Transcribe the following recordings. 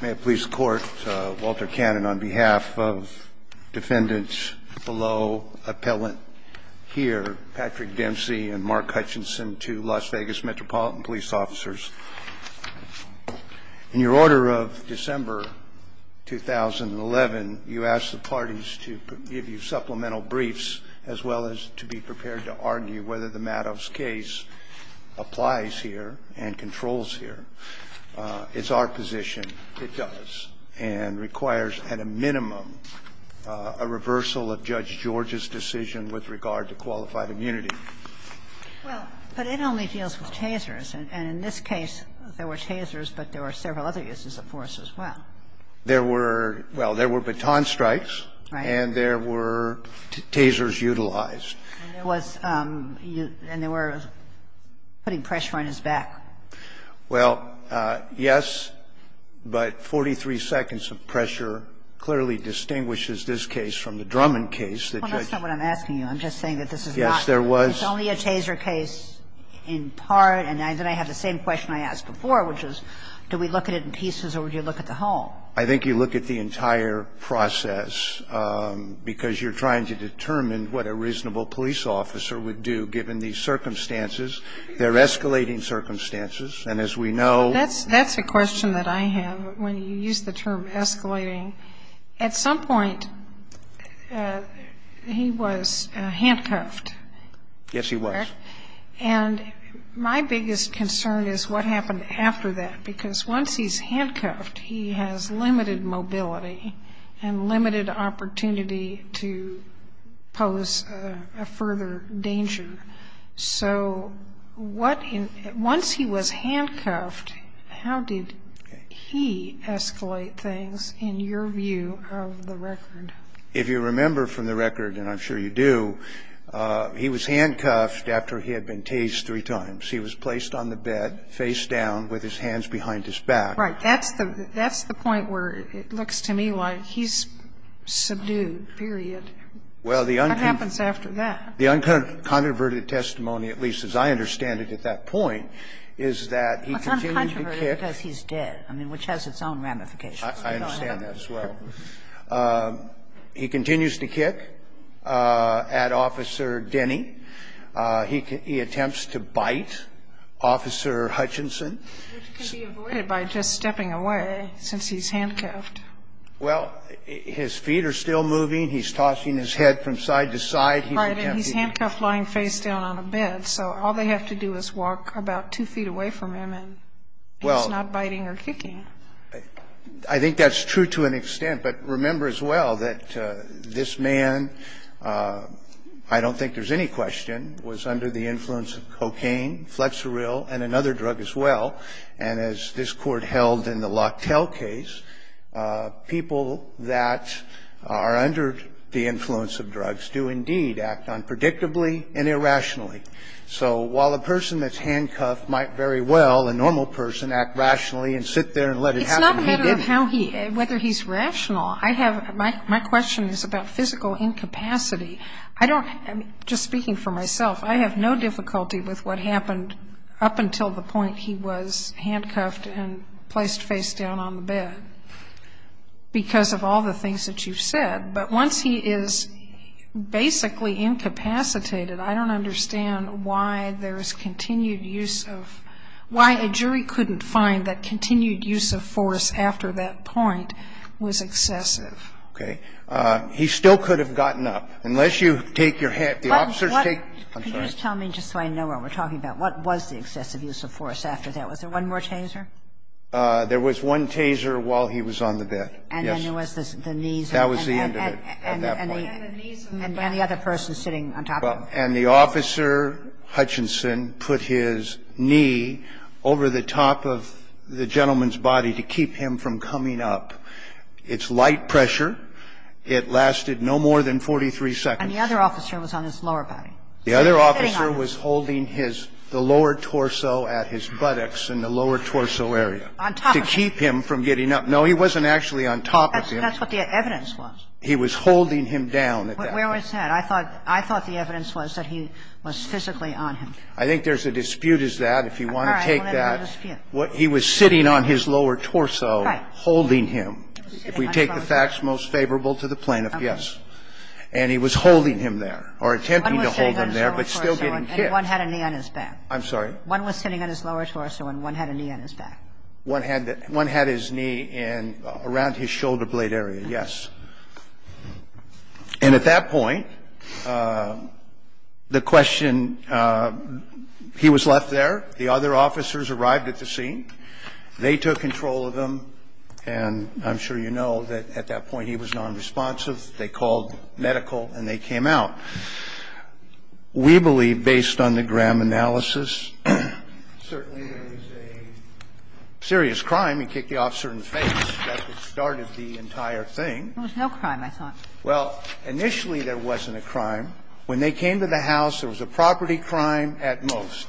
May it please the Court, Walter Cannon on behalf of defendants below, appellant here, Patrick Dempsey and Mark Hutchinson, two Las Vegas Metropolitan Police officers. In your order of December 2011, you asked the parties to give you supplemental briefs as well as to be prepared to argue whether the Madoff's case applies here and controls here. It's our position it does, and requires at a minimum a reversal of Judge George's decision with regard to qualified immunity. Well, but it only deals with tasers, and in this case, there were tasers, but there were several other uses of force as well. There were – well, there were baton strikes and there were tasers utilized. And there was – and there were putting pressure on his back. Well, yes, but 43 seconds of pressure clearly distinguishes this case from the Drummond case that Judge George used. Well, that's not what I'm asking you. I'm just saying that this is not – Yes, there was. It's only a taser case in part, and then I have the same question I asked before, which is do we look at it in pieces or would you look at the whole? I think you look at the entire process, because you're trying to determine what a reasonable police officer would do given these circumstances. They're escalating circumstances, and as we know – That's a question that I have when you use the term escalating. At some point, he was handcuffed. Yes, he was. And my biggest concern is what happened after that, because once he's handcuffed, he has limited mobility and limited opportunity to pose a further danger. So what in – once he was handcuffed, how did he escalate things in your view of the record? If you remember from the record, and I'm sure you do, he was handcuffed after he had been tased three times. He was placed on the bed, face down, with his hands behind his back. Right. That's the point where it looks to me like he's subdued, period. What happens after that? The uncontroverted testimony, at least as I understand it at that point, is that he continues to kick – It's uncontroverted because he's dead, which has its own ramifications. I understand that as well. He continues to kick at Officer Denny. He attempts to bite Officer Hutchinson. Which can be avoided by just stepping away, since he's handcuffed. Well, his feet are still moving. He's tossing his head from side to side. Right. And he's handcuffed lying face down on a bed. So all they have to do is walk about two feet away from him and he's not biting or kicking. I think that's true to an extent. But remember as well that this man, I don't think there's any question, was under the influence of cocaine, flexeril, and another drug as well. And as this Court held in the Locktell case, people that are under the influence of drugs do indeed act unpredictably and irrationally. So while a person that's handcuffed might very well, a normal person, act rationally and sit there and let it happen, he didn't. It's not a matter of how he – whether he's rational. I have – my question is about physical incapacity. I don't – just speaking for myself, I have no difficulty with what happened up until the point he was handcuffed and placed face down on the bed because of all the things that you've said. But once he is basically incapacitated, I don't understand why there's continued use of – why a jury couldn't find that continued use of force after that point was excessive. Okay. He still could have gotten up, unless you take your head – the officers take – I'm sorry. Can you just tell me, just so I know what we're talking about, what was the excessive use of force after that? Was there one more taser? There was one taser while he was on the bed, yes. That was the end of it. And the other person sitting on top of him. And the officer, Hutchinson, put his knee over the top of the gentleman's body to keep him from coming up. It's light pressure. It lasted no more than 43 seconds. And the other officer was on his lower body. The other officer was holding his – the lower torso at his buttocks in the lower torso area. On top of him. To keep him from getting up. No, he wasn't actually on top of him. That's what the evidence was. He was holding him down at that point. Where was that? I thought the evidence was that he was physically on him. I think there's a dispute as that. If you want to take that. All right. We'll let it be a dispute. He was sitting on his lower torso. Right. Holding him. If we take the facts most favorable to the plaintiff, yes. And he was holding him there, or attempting to hold him there, but still getting kicked. One was sitting on his lower torso, and one had a knee on his back. I'm sorry? One was sitting on his lower torso, and one had a knee on his back. One had his knee in – around his shoulder blade area, yes. And at that point, the question – he was left there. The other officers arrived at the scene. They took control of him. And I'm sure you know that at that point he was non-responsive. They called medical, and they came out. We believe, based on the Graham analysis, certainly there was a serious crime. He kicked the officer in the face. That's what started the entire thing. There was no crime, I thought. Well, initially there wasn't a crime. When they came to the house, there was a property crime at most.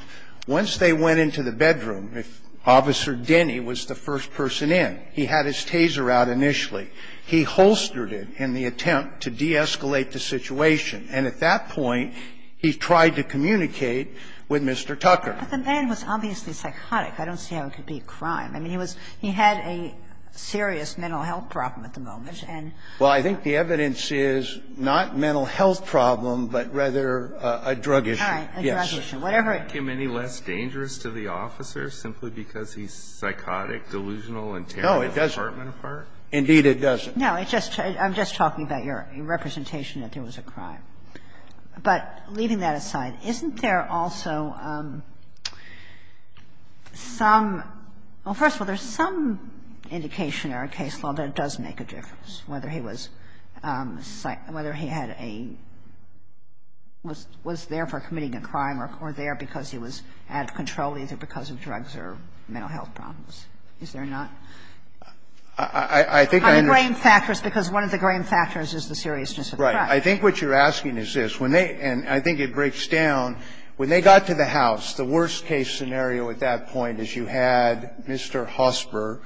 Once they went into the bedroom, Officer Denny was the first person in. He had his taser out initially. He holstered it in the attempt to de-escalate the situation. And at that point, he tried to communicate with Mr. Tucker. But the man was obviously psychotic. I don't see how it could be a crime. I mean, he was – he had a serious mental health problem at the moment. And he had a serious mental health problem at the time. And I think the evidence is not a mental health problem, but rather a drug issue. All right. A drug issue. Whatever it is. Isn't that making him any less dangerous to the officer, simply because he's psychotic, delusional, and tearing his apartment apart? No, it doesn't. Indeed, it doesn't. No, it's just – I'm just talking about your representation that there was a crime. But leaving that aside, isn't there also some – well, first of all, there's some indication in our case law that it does make a difference, whether he was psych – whether he had a – was there for committing a crime or there because he was out of control, either because of drugs or mental health problems. Is there not? I think I understand. On the grain factors, because one of the grain factors is the seriousness of the crime. Right. I think what you're asking is this. When they – and I think it breaks down. When they got to the house, the worst-case scenario at that point is you had Mr. Hosper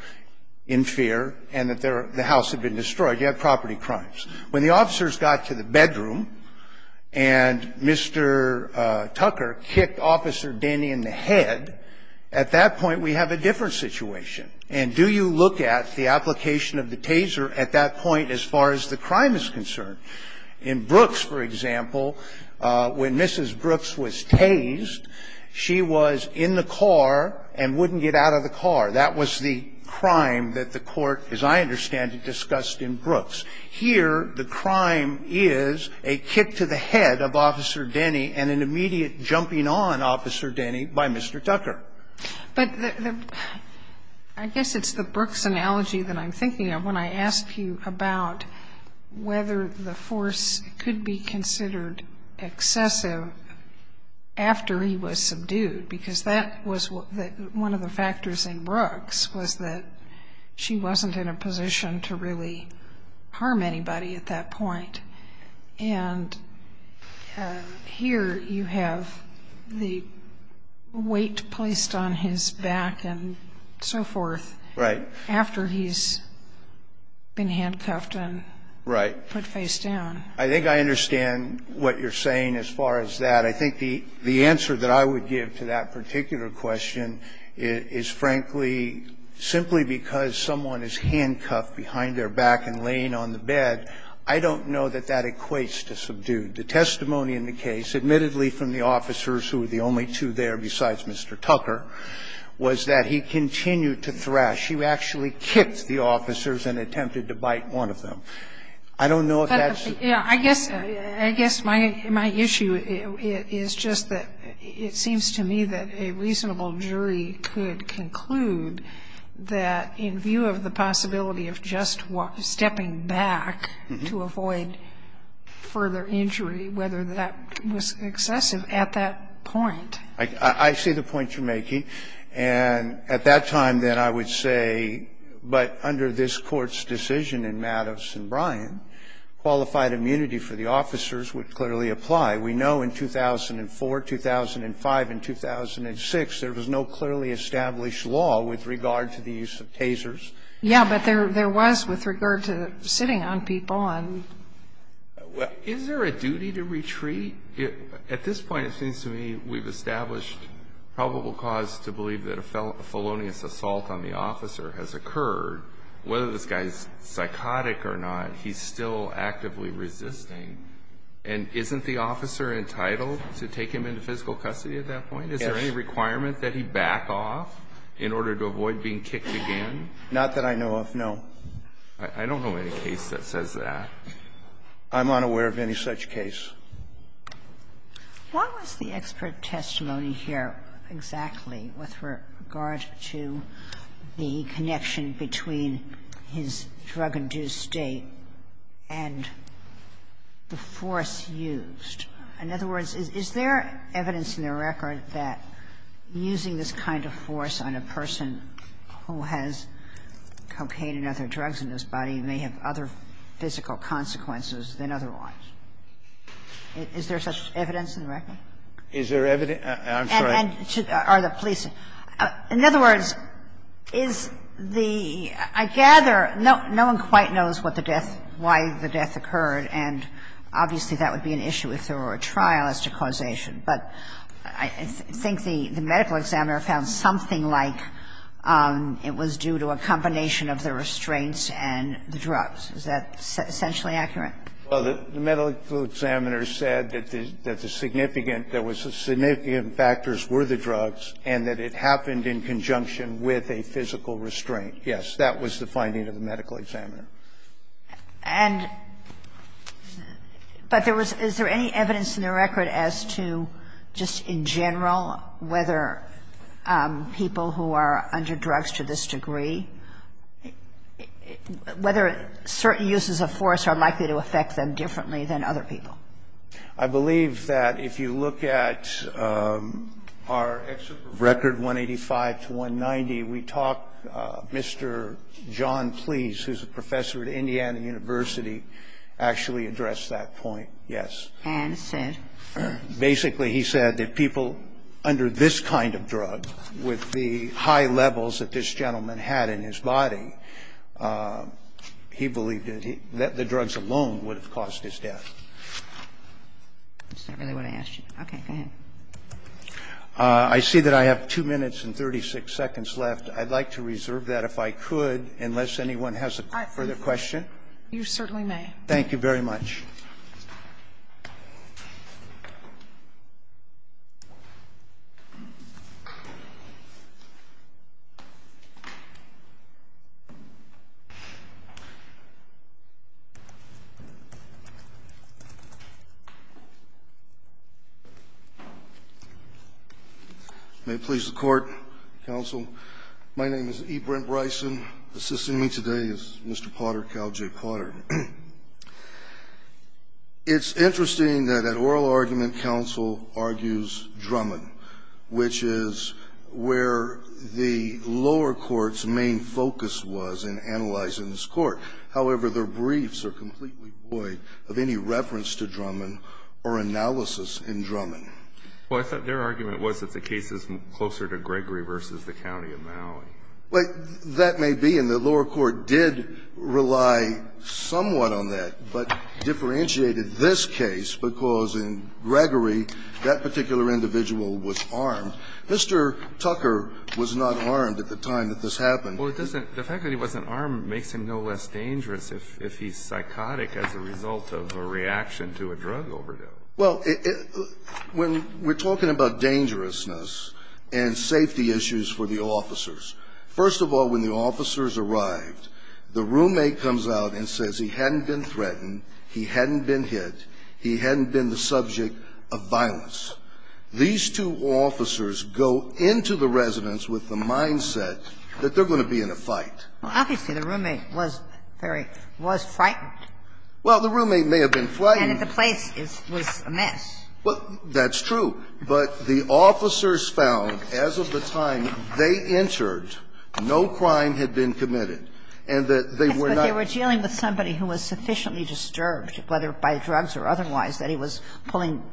in fear and that their – the house had been destroyed. You have property crimes. When the officers got to the bedroom and Mr. Tucker kicked Officer Denny in the head, at that point we have a different situation. And do you look at the application of the taser at that point as far as the crime is concerned? In Brooks, for example, when Mrs. Brooks was tased, she was in the car and wouldn't get out of the car. That was the crime that the Court, as I understand it, discussed in Brooks. Here, the crime is a kick to the head of Officer Denny and an immediate jumping on Officer Denny by Mr. Tucker. But the – I guess it's the Brooks analogy that I'm thinking of when I ask you about whether the force could be considered excessive after he was subdued, because that was one of the factors in Brooks, was that she wasn't in a position to really harm anybody at that point. And here you have the weight placed on his back and so forth. Right. After he's been handcuffed and put face down. I think I understand what you're saying as far as that. But I think the answer that I would give to that particular question is, frankly, simply because someone is handcuffed behind their back and laying on the bed, I don't know that that equates to subdued. The testimony in the case, admittedly from the officers who were the only two there besides Mr. Tucker, was that he continued to thrash. He actually kicked the officers and attempted to bite one of them. I don't know if that's the case. Yeah, I guess my issue is just that it seems to me that a reasonable jury could conclude that in view of the possibility of just stepping back to avoid further injury, whether that was excessive at that point. I see the point you're making. And at that time, then, I would say, but under this Court's decision in Madoff's case and Brian, qualified immunity for the officers would clearly apply. We know in 2004, 2005, and 2006, there was no clearly established law with regard to the use of tasers. Yeah, but there was with regard to sitting on people and we can't do that. Well, is there a duty to retreat? At this point, it seems to me we've established probable cause to believe that a felonious assault on the officer has occurred. Whether this guy's psychotic or not, he's still actively resisting. And isn't the officer entitled to take him into physical custody at that point? Is there any requirement that he back off in order to avoid being kicked again? Not that I know of, no. I don't know any case that says that. I'm unaware of any such case. Why was the expert testimony here exactly with regard to the connection between his drug-induced state and the force used? In other words, is there evidence in the record that using this kind of force on a person who has cocaine and other drugs in his body may have other physical consequences than otherwise? Is there such evidence in the record? Is there evidence? I'm sorry. And are the police ---- in other words, is the ---- I gather no one quite knows what the death, why the death occurred, and obviously that would be an issue if there were a trial as to causation, but I think the medical examiner found something like it was due to a combination of the restraints and the drugs. Is that essentially accurate? Well, the medical examiner said that the significant ---- there was a significant factors were the drugs and that it happened in conjunction with a physical restraint. Yes. That was the finding of the medical examiner. And ---- but there was ---- is there any evidence in the record as to just in general whether people who are under drugs to this degree, whether certain uses of force are likely to affect them differently than other people? I believe that if you look at our record, 185 to 190, we talk Mr. John Please, who's a professor at Indiana University, actually addressed that point, yes. And said? Basically, he said that people under this kind of drug, with the high levels that this gentleman had in his body, he believed that the drugs alone would have caused his death. That's not really what I asked you. Okay. Go ahead. I see that I have 2 minutes and 36 seconds left. I'd like to reserve that, if I could, unless anyone has a further question. You certainly may. Thank you very much. May it please the Court, counsel, my name is E. Brent Bryson. Assisting me today is Mr. Potter Cowley J. Potter. It's interesting that at oral argument, counsel argues Drummond, which is where the lower court's main focus was in analyzing this court. However, their briefs are completely void of any reference to Drummond or analysis in Drummond. Well, I thought their argument was that the case is closer to Gregory v. the County of Maui. Well, that may be, and the lower court did rely somewhat on that, but differentiated this case because in Gregory, that particular individual was armed. Mr. Tucker was not armed at the time that this happened. Well, it doesn't the fact that he wasn't armed makes him no less dangerous if he's psychotic as a result of a reaction to a drug overdose. Well, when we're talking about dangerousness and safety issues for the officers, first of all, when the officers arrived, the roommate comes out and says he hadn't been threatened, he hadn't been hit, he hadn't been the subject of violence. These two officers go into the residence with the mindset that they're going to be in a fight. Obviously, the roommate was very – was frightened. Well, the roommate may have been frightened. And that the place was a mess. Well, that's true. But the officers found, as of the time they entered, no crime had been committed and that they were not – Yes, but they were dealing with somebody who was sufficiently disturbed, whether by drugs or otherwise, that he was pulling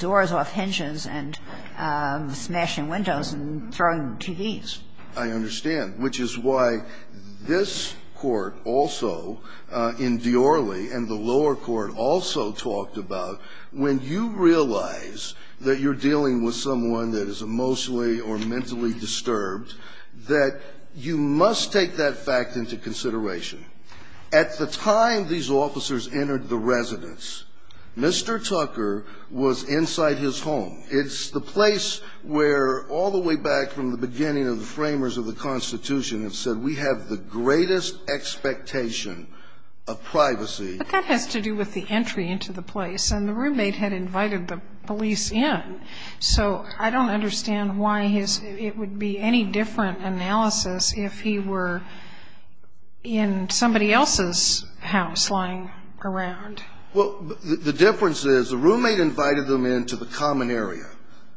doors off hinges and smashing windows and throwing TVs. I understand, which is why this Court also in Diorly and the lower court also talked about, when you realize that you're dealing with someone that is emotionally or mentally disturbed, that you must take that fact into consideration. At the time these officers entered the residence, Mr. Tucker was inside his home. It's the place where, all the way back from the beginning of the framers of the Constitution, it said we have the greatest expectation of privacy. But that has to do with the entry into the place. And the roommate had invited the police in. So I don't understand why his – it would be any different analysis if he were in somebody else's house lying around. Well, the difference is the roommate invited them into the common area.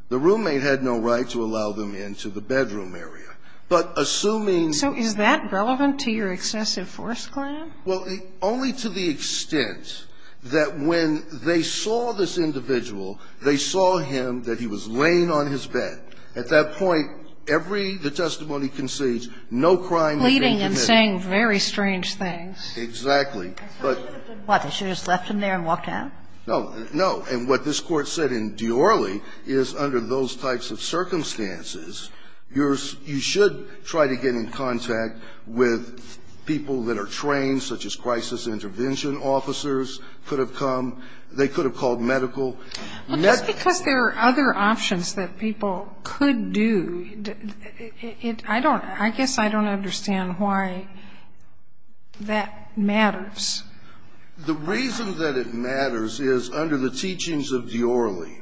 The roommate had no right to allow them into the bedroom area. But assuming – So is that relevant to your excessive force claim? Well, only to the extent that when they saw this individual, they saw him, that he was laying on his bed. At that point, every – the testimony concedes, no crime had been committed. Pleading and saying very strange things. Exactly. But – What, they should have just left him there and walked out? No, no. And what this Court said in Diorly is, under those types of circumstances, you should try to get in contact with people that are trained, such as crisis intervention officers could have come. They could have called medical. Well, just because there are other options that people could do, I don't – I guess I don't understand why that matters. The reason that it matters is, under the teachings of Diorly,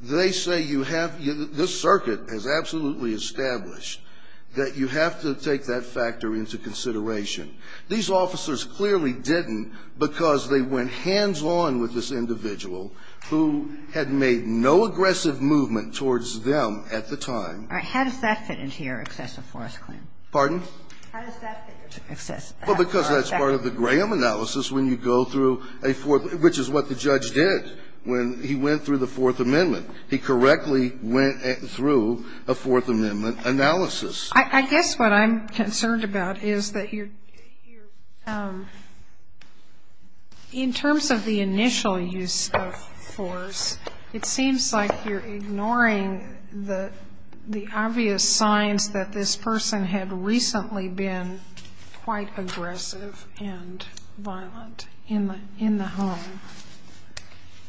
they say you have – this is absolutely established – that you have to take that factor into consideration. These officers clearly didn't because they went hands-on with this individual who had made no aggressive movement towards them at the time. All right. How does that fit into your excessive force claim? Pardon? How does that fit into excessive force claim? Well, because that's part of the Graham analysis when you go through a – which is what the judge did when he went through the Fourth Amendment. He correctly went through a Fourth Amendment analysis. I guess what I'm concerned about is that you're – in terms of the initial use of force, it seems like you're ignoring the obvious signs that this person had recently been quite aggressive and violent in the home.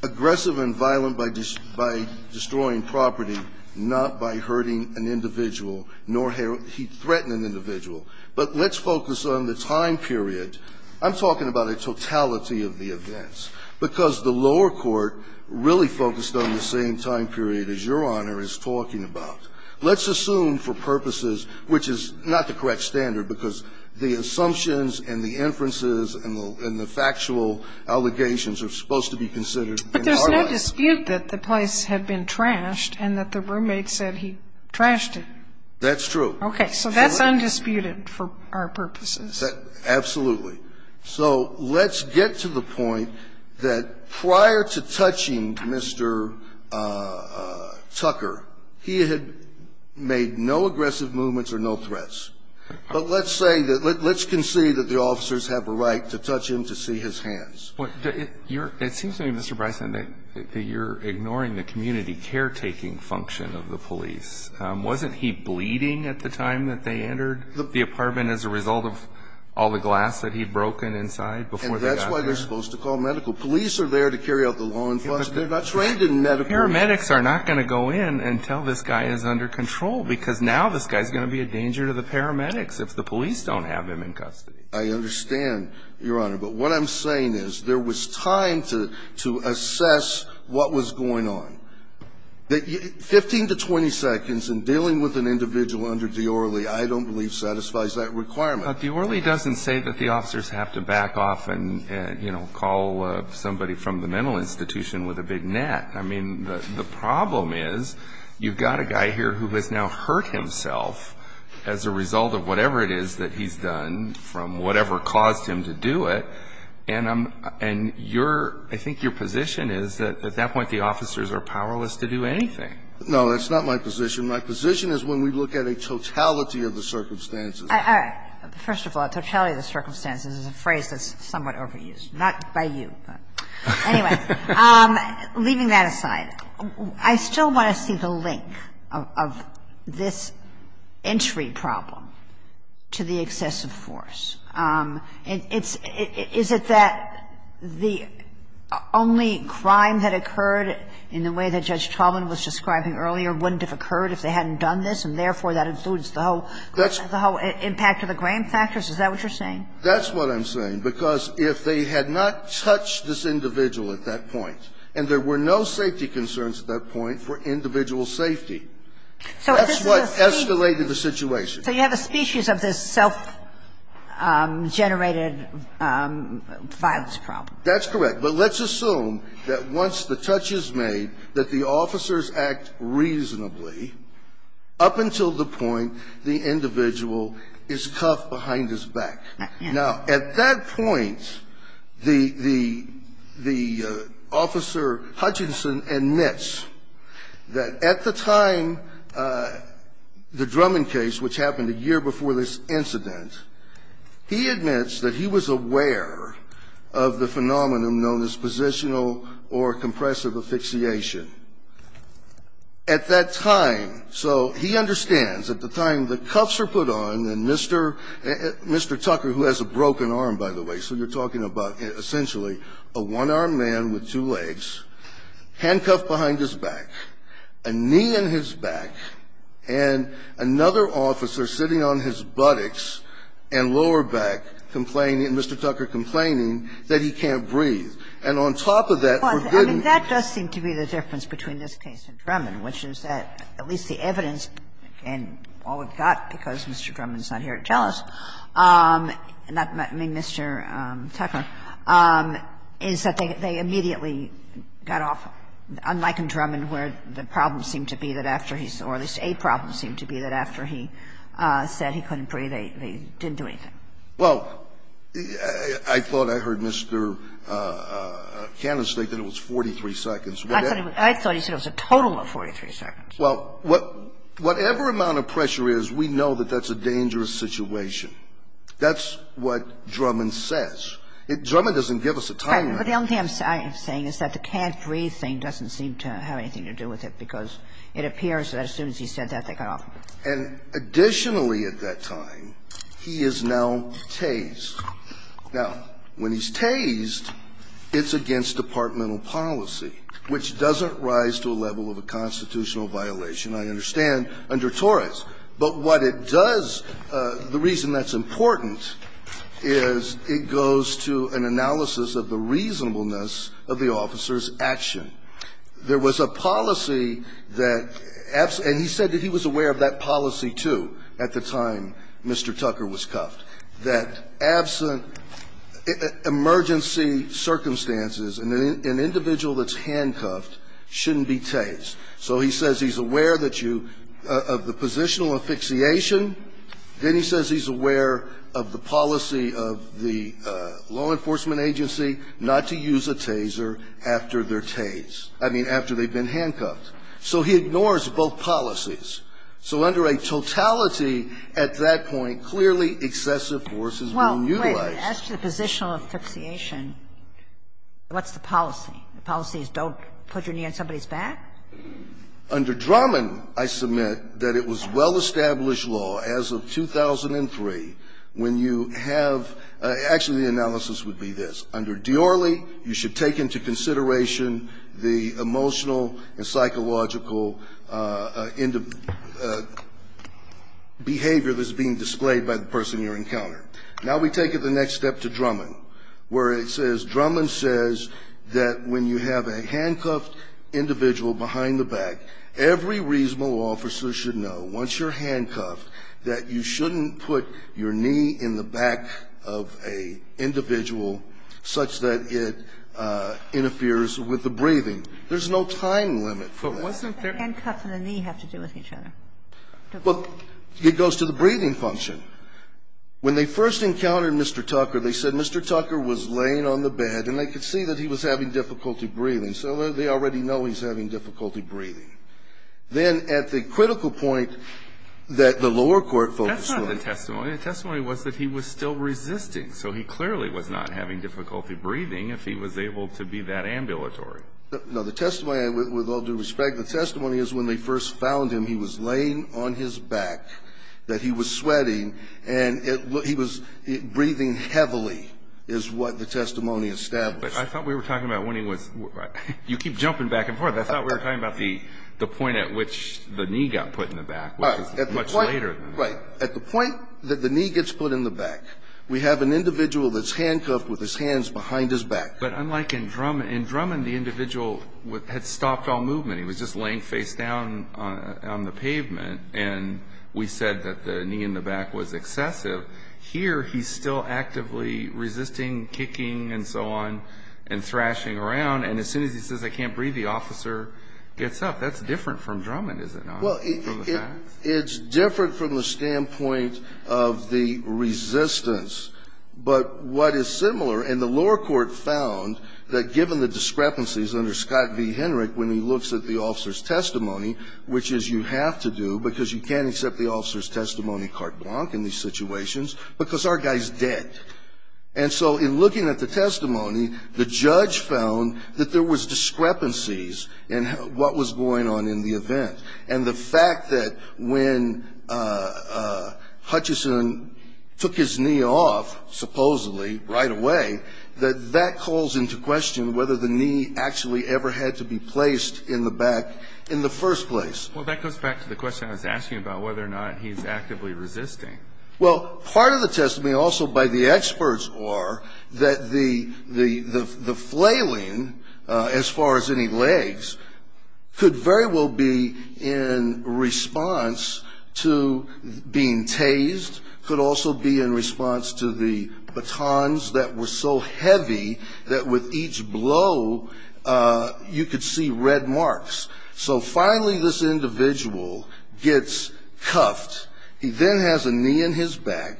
Aggressive and violent by destroying property, not by hurting an individual, nor – he threatened an individual. But let's focus on the time period. I'm talking about a totality of the events, because the lower court really focused on the same time period as Your Honor is talking about. Let's assume for purposes – which is not the correct standard, because the assumptions and the inferences and the factual allegations are supposed to be considered in our language. But there's no dispute that the place had been trashed and that the roommate said he trashed it. That's true. Okay. So that's undisputed for our purposes. Absolutely. So let's get to the point that prior to touching Mr. Tucker, he had made no aggressive movements or no threats. But let's say that – let's concede that the officers have a right to touch him to see his hands. It seems to me, Mr. Bryson, that you're ignoring the community caretaking function of the police. Wasn't he bleeding at the time that they entered the apartment as a result of all the glass that he'd broken inside before they got there? And that's why they're supposed to call medical. Police are there to carry out the law enforcement. They're not trained in medical. Paramedics are not going to go in and tell this guy is under control, because now this guy's going to be a danger to the paramedics if the police don't have him in custody. I understand, Your Honor. But what I'm saying is there was time to assess what was going on. Fifteen to twenty seconds in dealing with an individual under Diorly, I don't believe satisfies that requirement. But Diorly doesn't say that the officers have to back off and call somebody from the mental institution with a big net. I mean, the problem is you've got a guy here who has now hurt himself as a result of whatever it is that he's done from whatever caused him to do it. And I'm – and your – I think your position is that at that point the officers are powerless to do anything. No, that's not my position. My position is when we look at a totality of the circumstances. All right. First of all, a totality of the circumstances is a phrase that's somewhat overused. Not by you, but anyway. Leaving that aside, I still want to see the link of this entry problem to the excessive force. It's – is it that the only crime that occurred in the way that Judge Chalman was describing earlier wouldn't have occurred if they hadn't done this, and therefore, that includes the whole impact of the grain factors? Is that what you're saying? That's what I'm saying, because if they had not touched this individual at that point, and there were no safety concerns at that point for individual safety, that's what escalated the situation. So you have a species of this self-generated violence problem. That's correct. But let's assume that once the touch is made, that the officers act reasonably up until the point the individual is cuffed behind his back. Now, at that point, the – the officer, Hutchinson, admits that at the time the Drummond case, which happened a year before this incident, he admits that he was aware of the phenomenon known as positional or compressive asphyxiation. At that time, so he understands, at the time the cuffs are put on and Mr. – Mr. Tucker who has a broken arm, by the way, so you're talking about essentially a one-armed man with two legs, handcuffed behind his back, a knee in his back, and another officer sitting on his buttocks and lower back complaining, Mr. Tucker complaining, that he can't breathe. And on top of that, we're getting to the point where he can't breathe. I mean, that does seem to be the difference between this case and Drummond, which is that at least the evidence and all we've got, because Mr. Drummond is not here to tell us, not Mr. Tucker, is that they immediately got off, unlike in Drummond, where the problem seemed to be that after he's – or at least a problem seemed to be that after he said he couldn't breathe, they didn't do anything. Well, I thought I heard Mr. Cannon state that it was 43 seconds. I thought he said it was a total of 43 seconds. Well, whatever amount of pressure is, we know that that's a dangerous situation. That's what Drummond says. Drummond doesn't give us a time limit. But the only thing I'm saying is that the can't breathe thing doesn't seem to have anything to do with it, because it appears that as soon as he said that, they got off. And additionally at that time, he is now tased. Now, when he's tased, it's against departmental policy. Which doesn't rise to a level of a constitutional violation, I understand, under Torres. But what it does, the reason that's important is it goes to an analysis of the reasonableness of the officer's action. There was a policy that – and he said that he was aware of that policy, too, at the time Mr. Tucker was cuffed – that absent emergency circumstances, an individual that's handcuffed shouldn't be tased. So he says he's aware that you – of the positional asphyxiation. Then he says he's aware of the policy of the law enforcement agency not to use a taser after they're tased – I mean, after they've been handcuffed. So he ignores both policies. So under a totality at that point, clearly excessive force is being utilized. Well, wait. As to the positional asphyxiation, what's the policy? The policy is don't put your knee on somebody's back? Under Drummond, I submit that it was well-established law as of 2003 when you have – actually, the analysis would be this. Under Diorle, you should take into consideration the emotional and psychological behavior that's being displayed by the person you're encountering. Now we take it the next step to Drummond, where it says – Drummond says that when you have a handcuffed individual behind the back, every reasonable officer should know, once you're handcuffed, that you shouldn't put your knee in the back of an individual such that it interferes with the breathing. There's no time limit for that. But once they're – But what does the handcuffs and the knee have to do with each other? Well, it goes to the breathing function. When they first encountered Mr. Tucker, they said Mr. Tucker was laying on the bed and they could see that he was having difficulty breathing. So they already know he's having difficulty breathing. Then at the critical point that the lower court focused on – That's not the testimony. The testimony was that he was still resisting. So he clearly was not having difficulty breathing if he was able to be that ambulatory. No, the testimony, with all due respect, the testimony is when they first found him, he was laying on his back, that he was sweating, and he was breathing heavily is what the testimony established. But I thought we were talking about when he was – you keep jumping back and forth. I thought we were talking about the point at which the knee got put in the back, which is much later than that. Right. At the point that the knee gets put in the back, we have an individual that's handcuffed with his hands behind his back. But unlike in Drummond, in Drummond, the individual had stopped all movement. He was just laying face down on the pavement. And we said that the knee in the back was excessive. Here, he's still actively resisting, kicking, and so on, and thrashing around. And as soon as he says, I can't breathe, the officer gets up. That's different from Drummond, is it not? Well, it's different from the standpoint of the resistance. But what is similar – and the lower court found that given the discrepancies under Scott v. Henrich when he looks at the officer's testimony, which is you have to do because you can't accept the officer's testimony carte blanche in these situations because our guy's dead. And so in looking at the testimony, the judge found that there was discrepancies in what was going on in the event. And the fact that when Hutchison took his knee off, supposedly, right away, that that calls into question whether the knee actually ever had to be placed in the back in the first place. Well, that goes back to the question I was asking about whether or not he's actively resisting. Well, part of the testimony also by the experts are that the flailing, as far as any legs, could very well be in response to being tased, could also be in response to the batons that were so heavy that with each blow, you could see red marks. So finally, this individual gets cuffed. He then has a knee in his back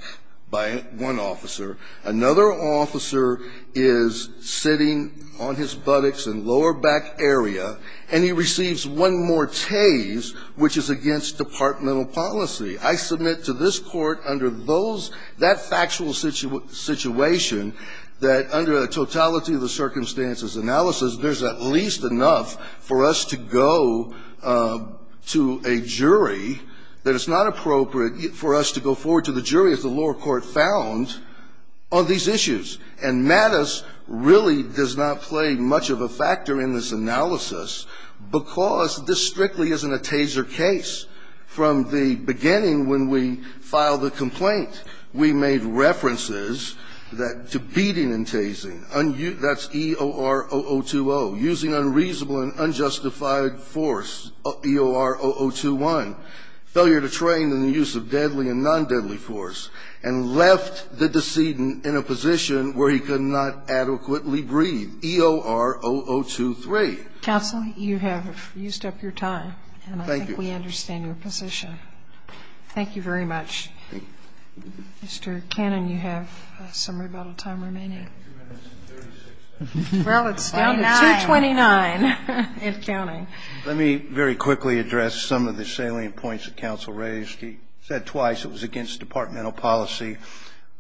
by one officer. Another officer is sitting on his buttocks in lower back area, and he receives one more tase, which is against departmental policy. I submit to this Court under those that factual situation that under a totality of the circumstances analysis, there's at least enough for us to go to a jury that it's not appropriate for us to go forward to the jury, as the lower court found, on these issues. And Mattis really does not play much of a factor in this analysis because this strictly isn't a taser case. From the beginning, when we filed the complaint, we made references to beating and tasing, and that's EOR0020, using unreasonable and unjustified force, EOR0021, failure to train in the use of deadly and non-deadly force, and left the decedent in a position where he could not adequately breathe, EOR0023. Counsel, you have used up your time, and I think we understand your position. Thank you. Thank you very much. Mr. Cannon, you have some rebuttal time remaining. Well, it's down to 229, if counting. Let me very quickly address some of the salient points that counsel raised. He said twice it was against departmental policy.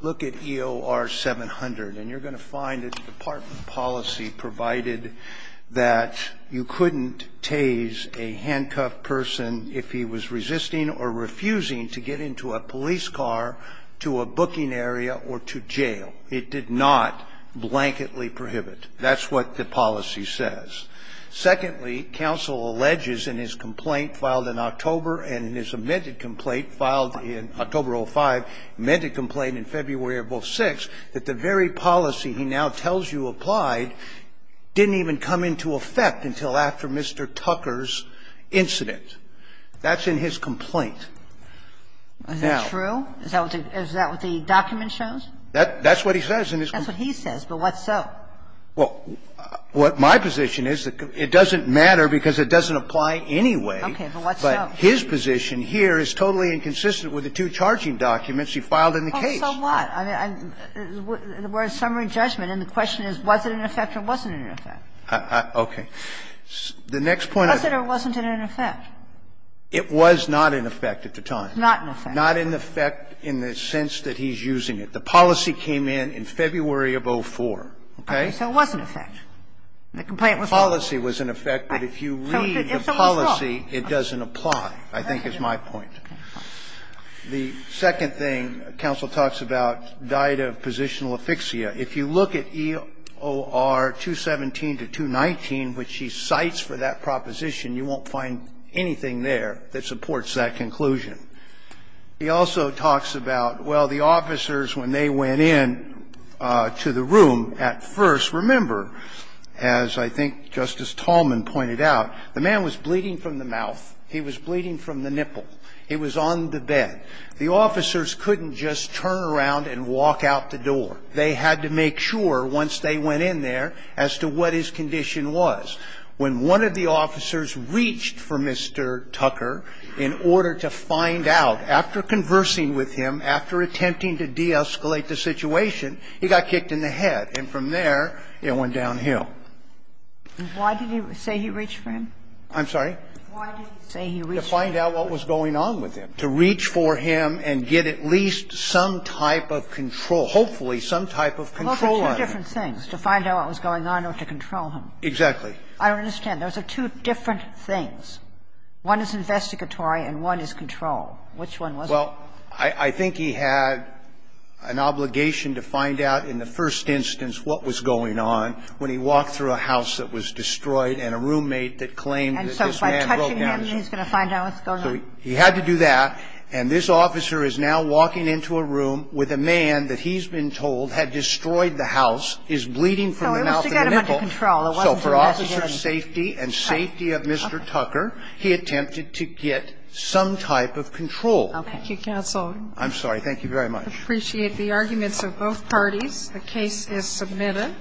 Look at EOR00700, and you're going to find it's department policy provided that you couldn't tase a handcuffed person if he was resisting or refusing to get into a police car, to a booking area, or to jail. It did not blanketly prohibit. That's what the policy says. Secondly, counsel alleges in his complaint filed in October and his amended complaint filed in October of 2005, amended complaint in February of 2006, that the very policy he now tells you applied didn't even come into effect until after Mr. Tucker's incident. That's in his complaint. Now the document shows that. That's what he says in his complaint. That's what he says, but what so? Well, what my position is, it doesn't matter because it doesn't apply anyway. Okay. But what so? But his position here is totally inconsistent with the two charging documents he filed in the case. Well, so what? I mean, we're in summary judgment, and the question is, was it in effect or wasn't in effect? Okay. The next point I've made. Was it or wasn't it in effect? It was not in effect at the time. Not in effect. Not in effect in the sense that he's using it. The policy came in in February of 2004. Okay. So it was in effect. The complaint was not in effect. The policy was in effect, but if you read the policy, it doesn't apply, I think is my point. The second thing counsel talks about, died of positional aphyxia. If you look at EOR 217 to 219, which he cites for that proposition, you won't find anything there that supports that conclusion. He also talks about, well, the officers, when they went in to the room at first, remember, as I think Justice Tallman pointed out, the man was bleeding from the mouth. He was bleeding from the nipple. He was on the bed. The officers couldn't just turn around and walk out the door. They had to make sure, once they went in there, as to what his condition was. And then he also talks about the officers, when one of the officers reached for Mr. Tucker in order to find out, after conversing with him, after attempting to de-escalate the situation, he got kicked in the head, and from there it went downhill. And why did he say he reached for him? I'm sorry? Why did he say he reached for him? To find out what was going on with him. To reach for him and get at least some type of control, hopefully some type of control on him. Those are two different things, to find out what was going on or to control him. Exactly. I don't understand. Those are two different things. One is investigatory and one is control. Which one was it? Well, I think he had an obligation to find out in the first instance what was going on when he walked through a house that was destroyed and a roommate that claimed that this man broke down. And so by touching him, he's going to find out what's going on. So he had to do that, and this officer is now walking into a room with a man that he's been told had destroyed the house, is bleeding from the mouth of the vehicle. So it was to get him under control. It wasn't to investigate him. So for officer's safety and safety of Mr. Tucker, he attempted to get some type of control. Okay. Thank you, counsel. I'm sorry. Thank you very much. I appreciate the arguments of both parties. The case is submitted.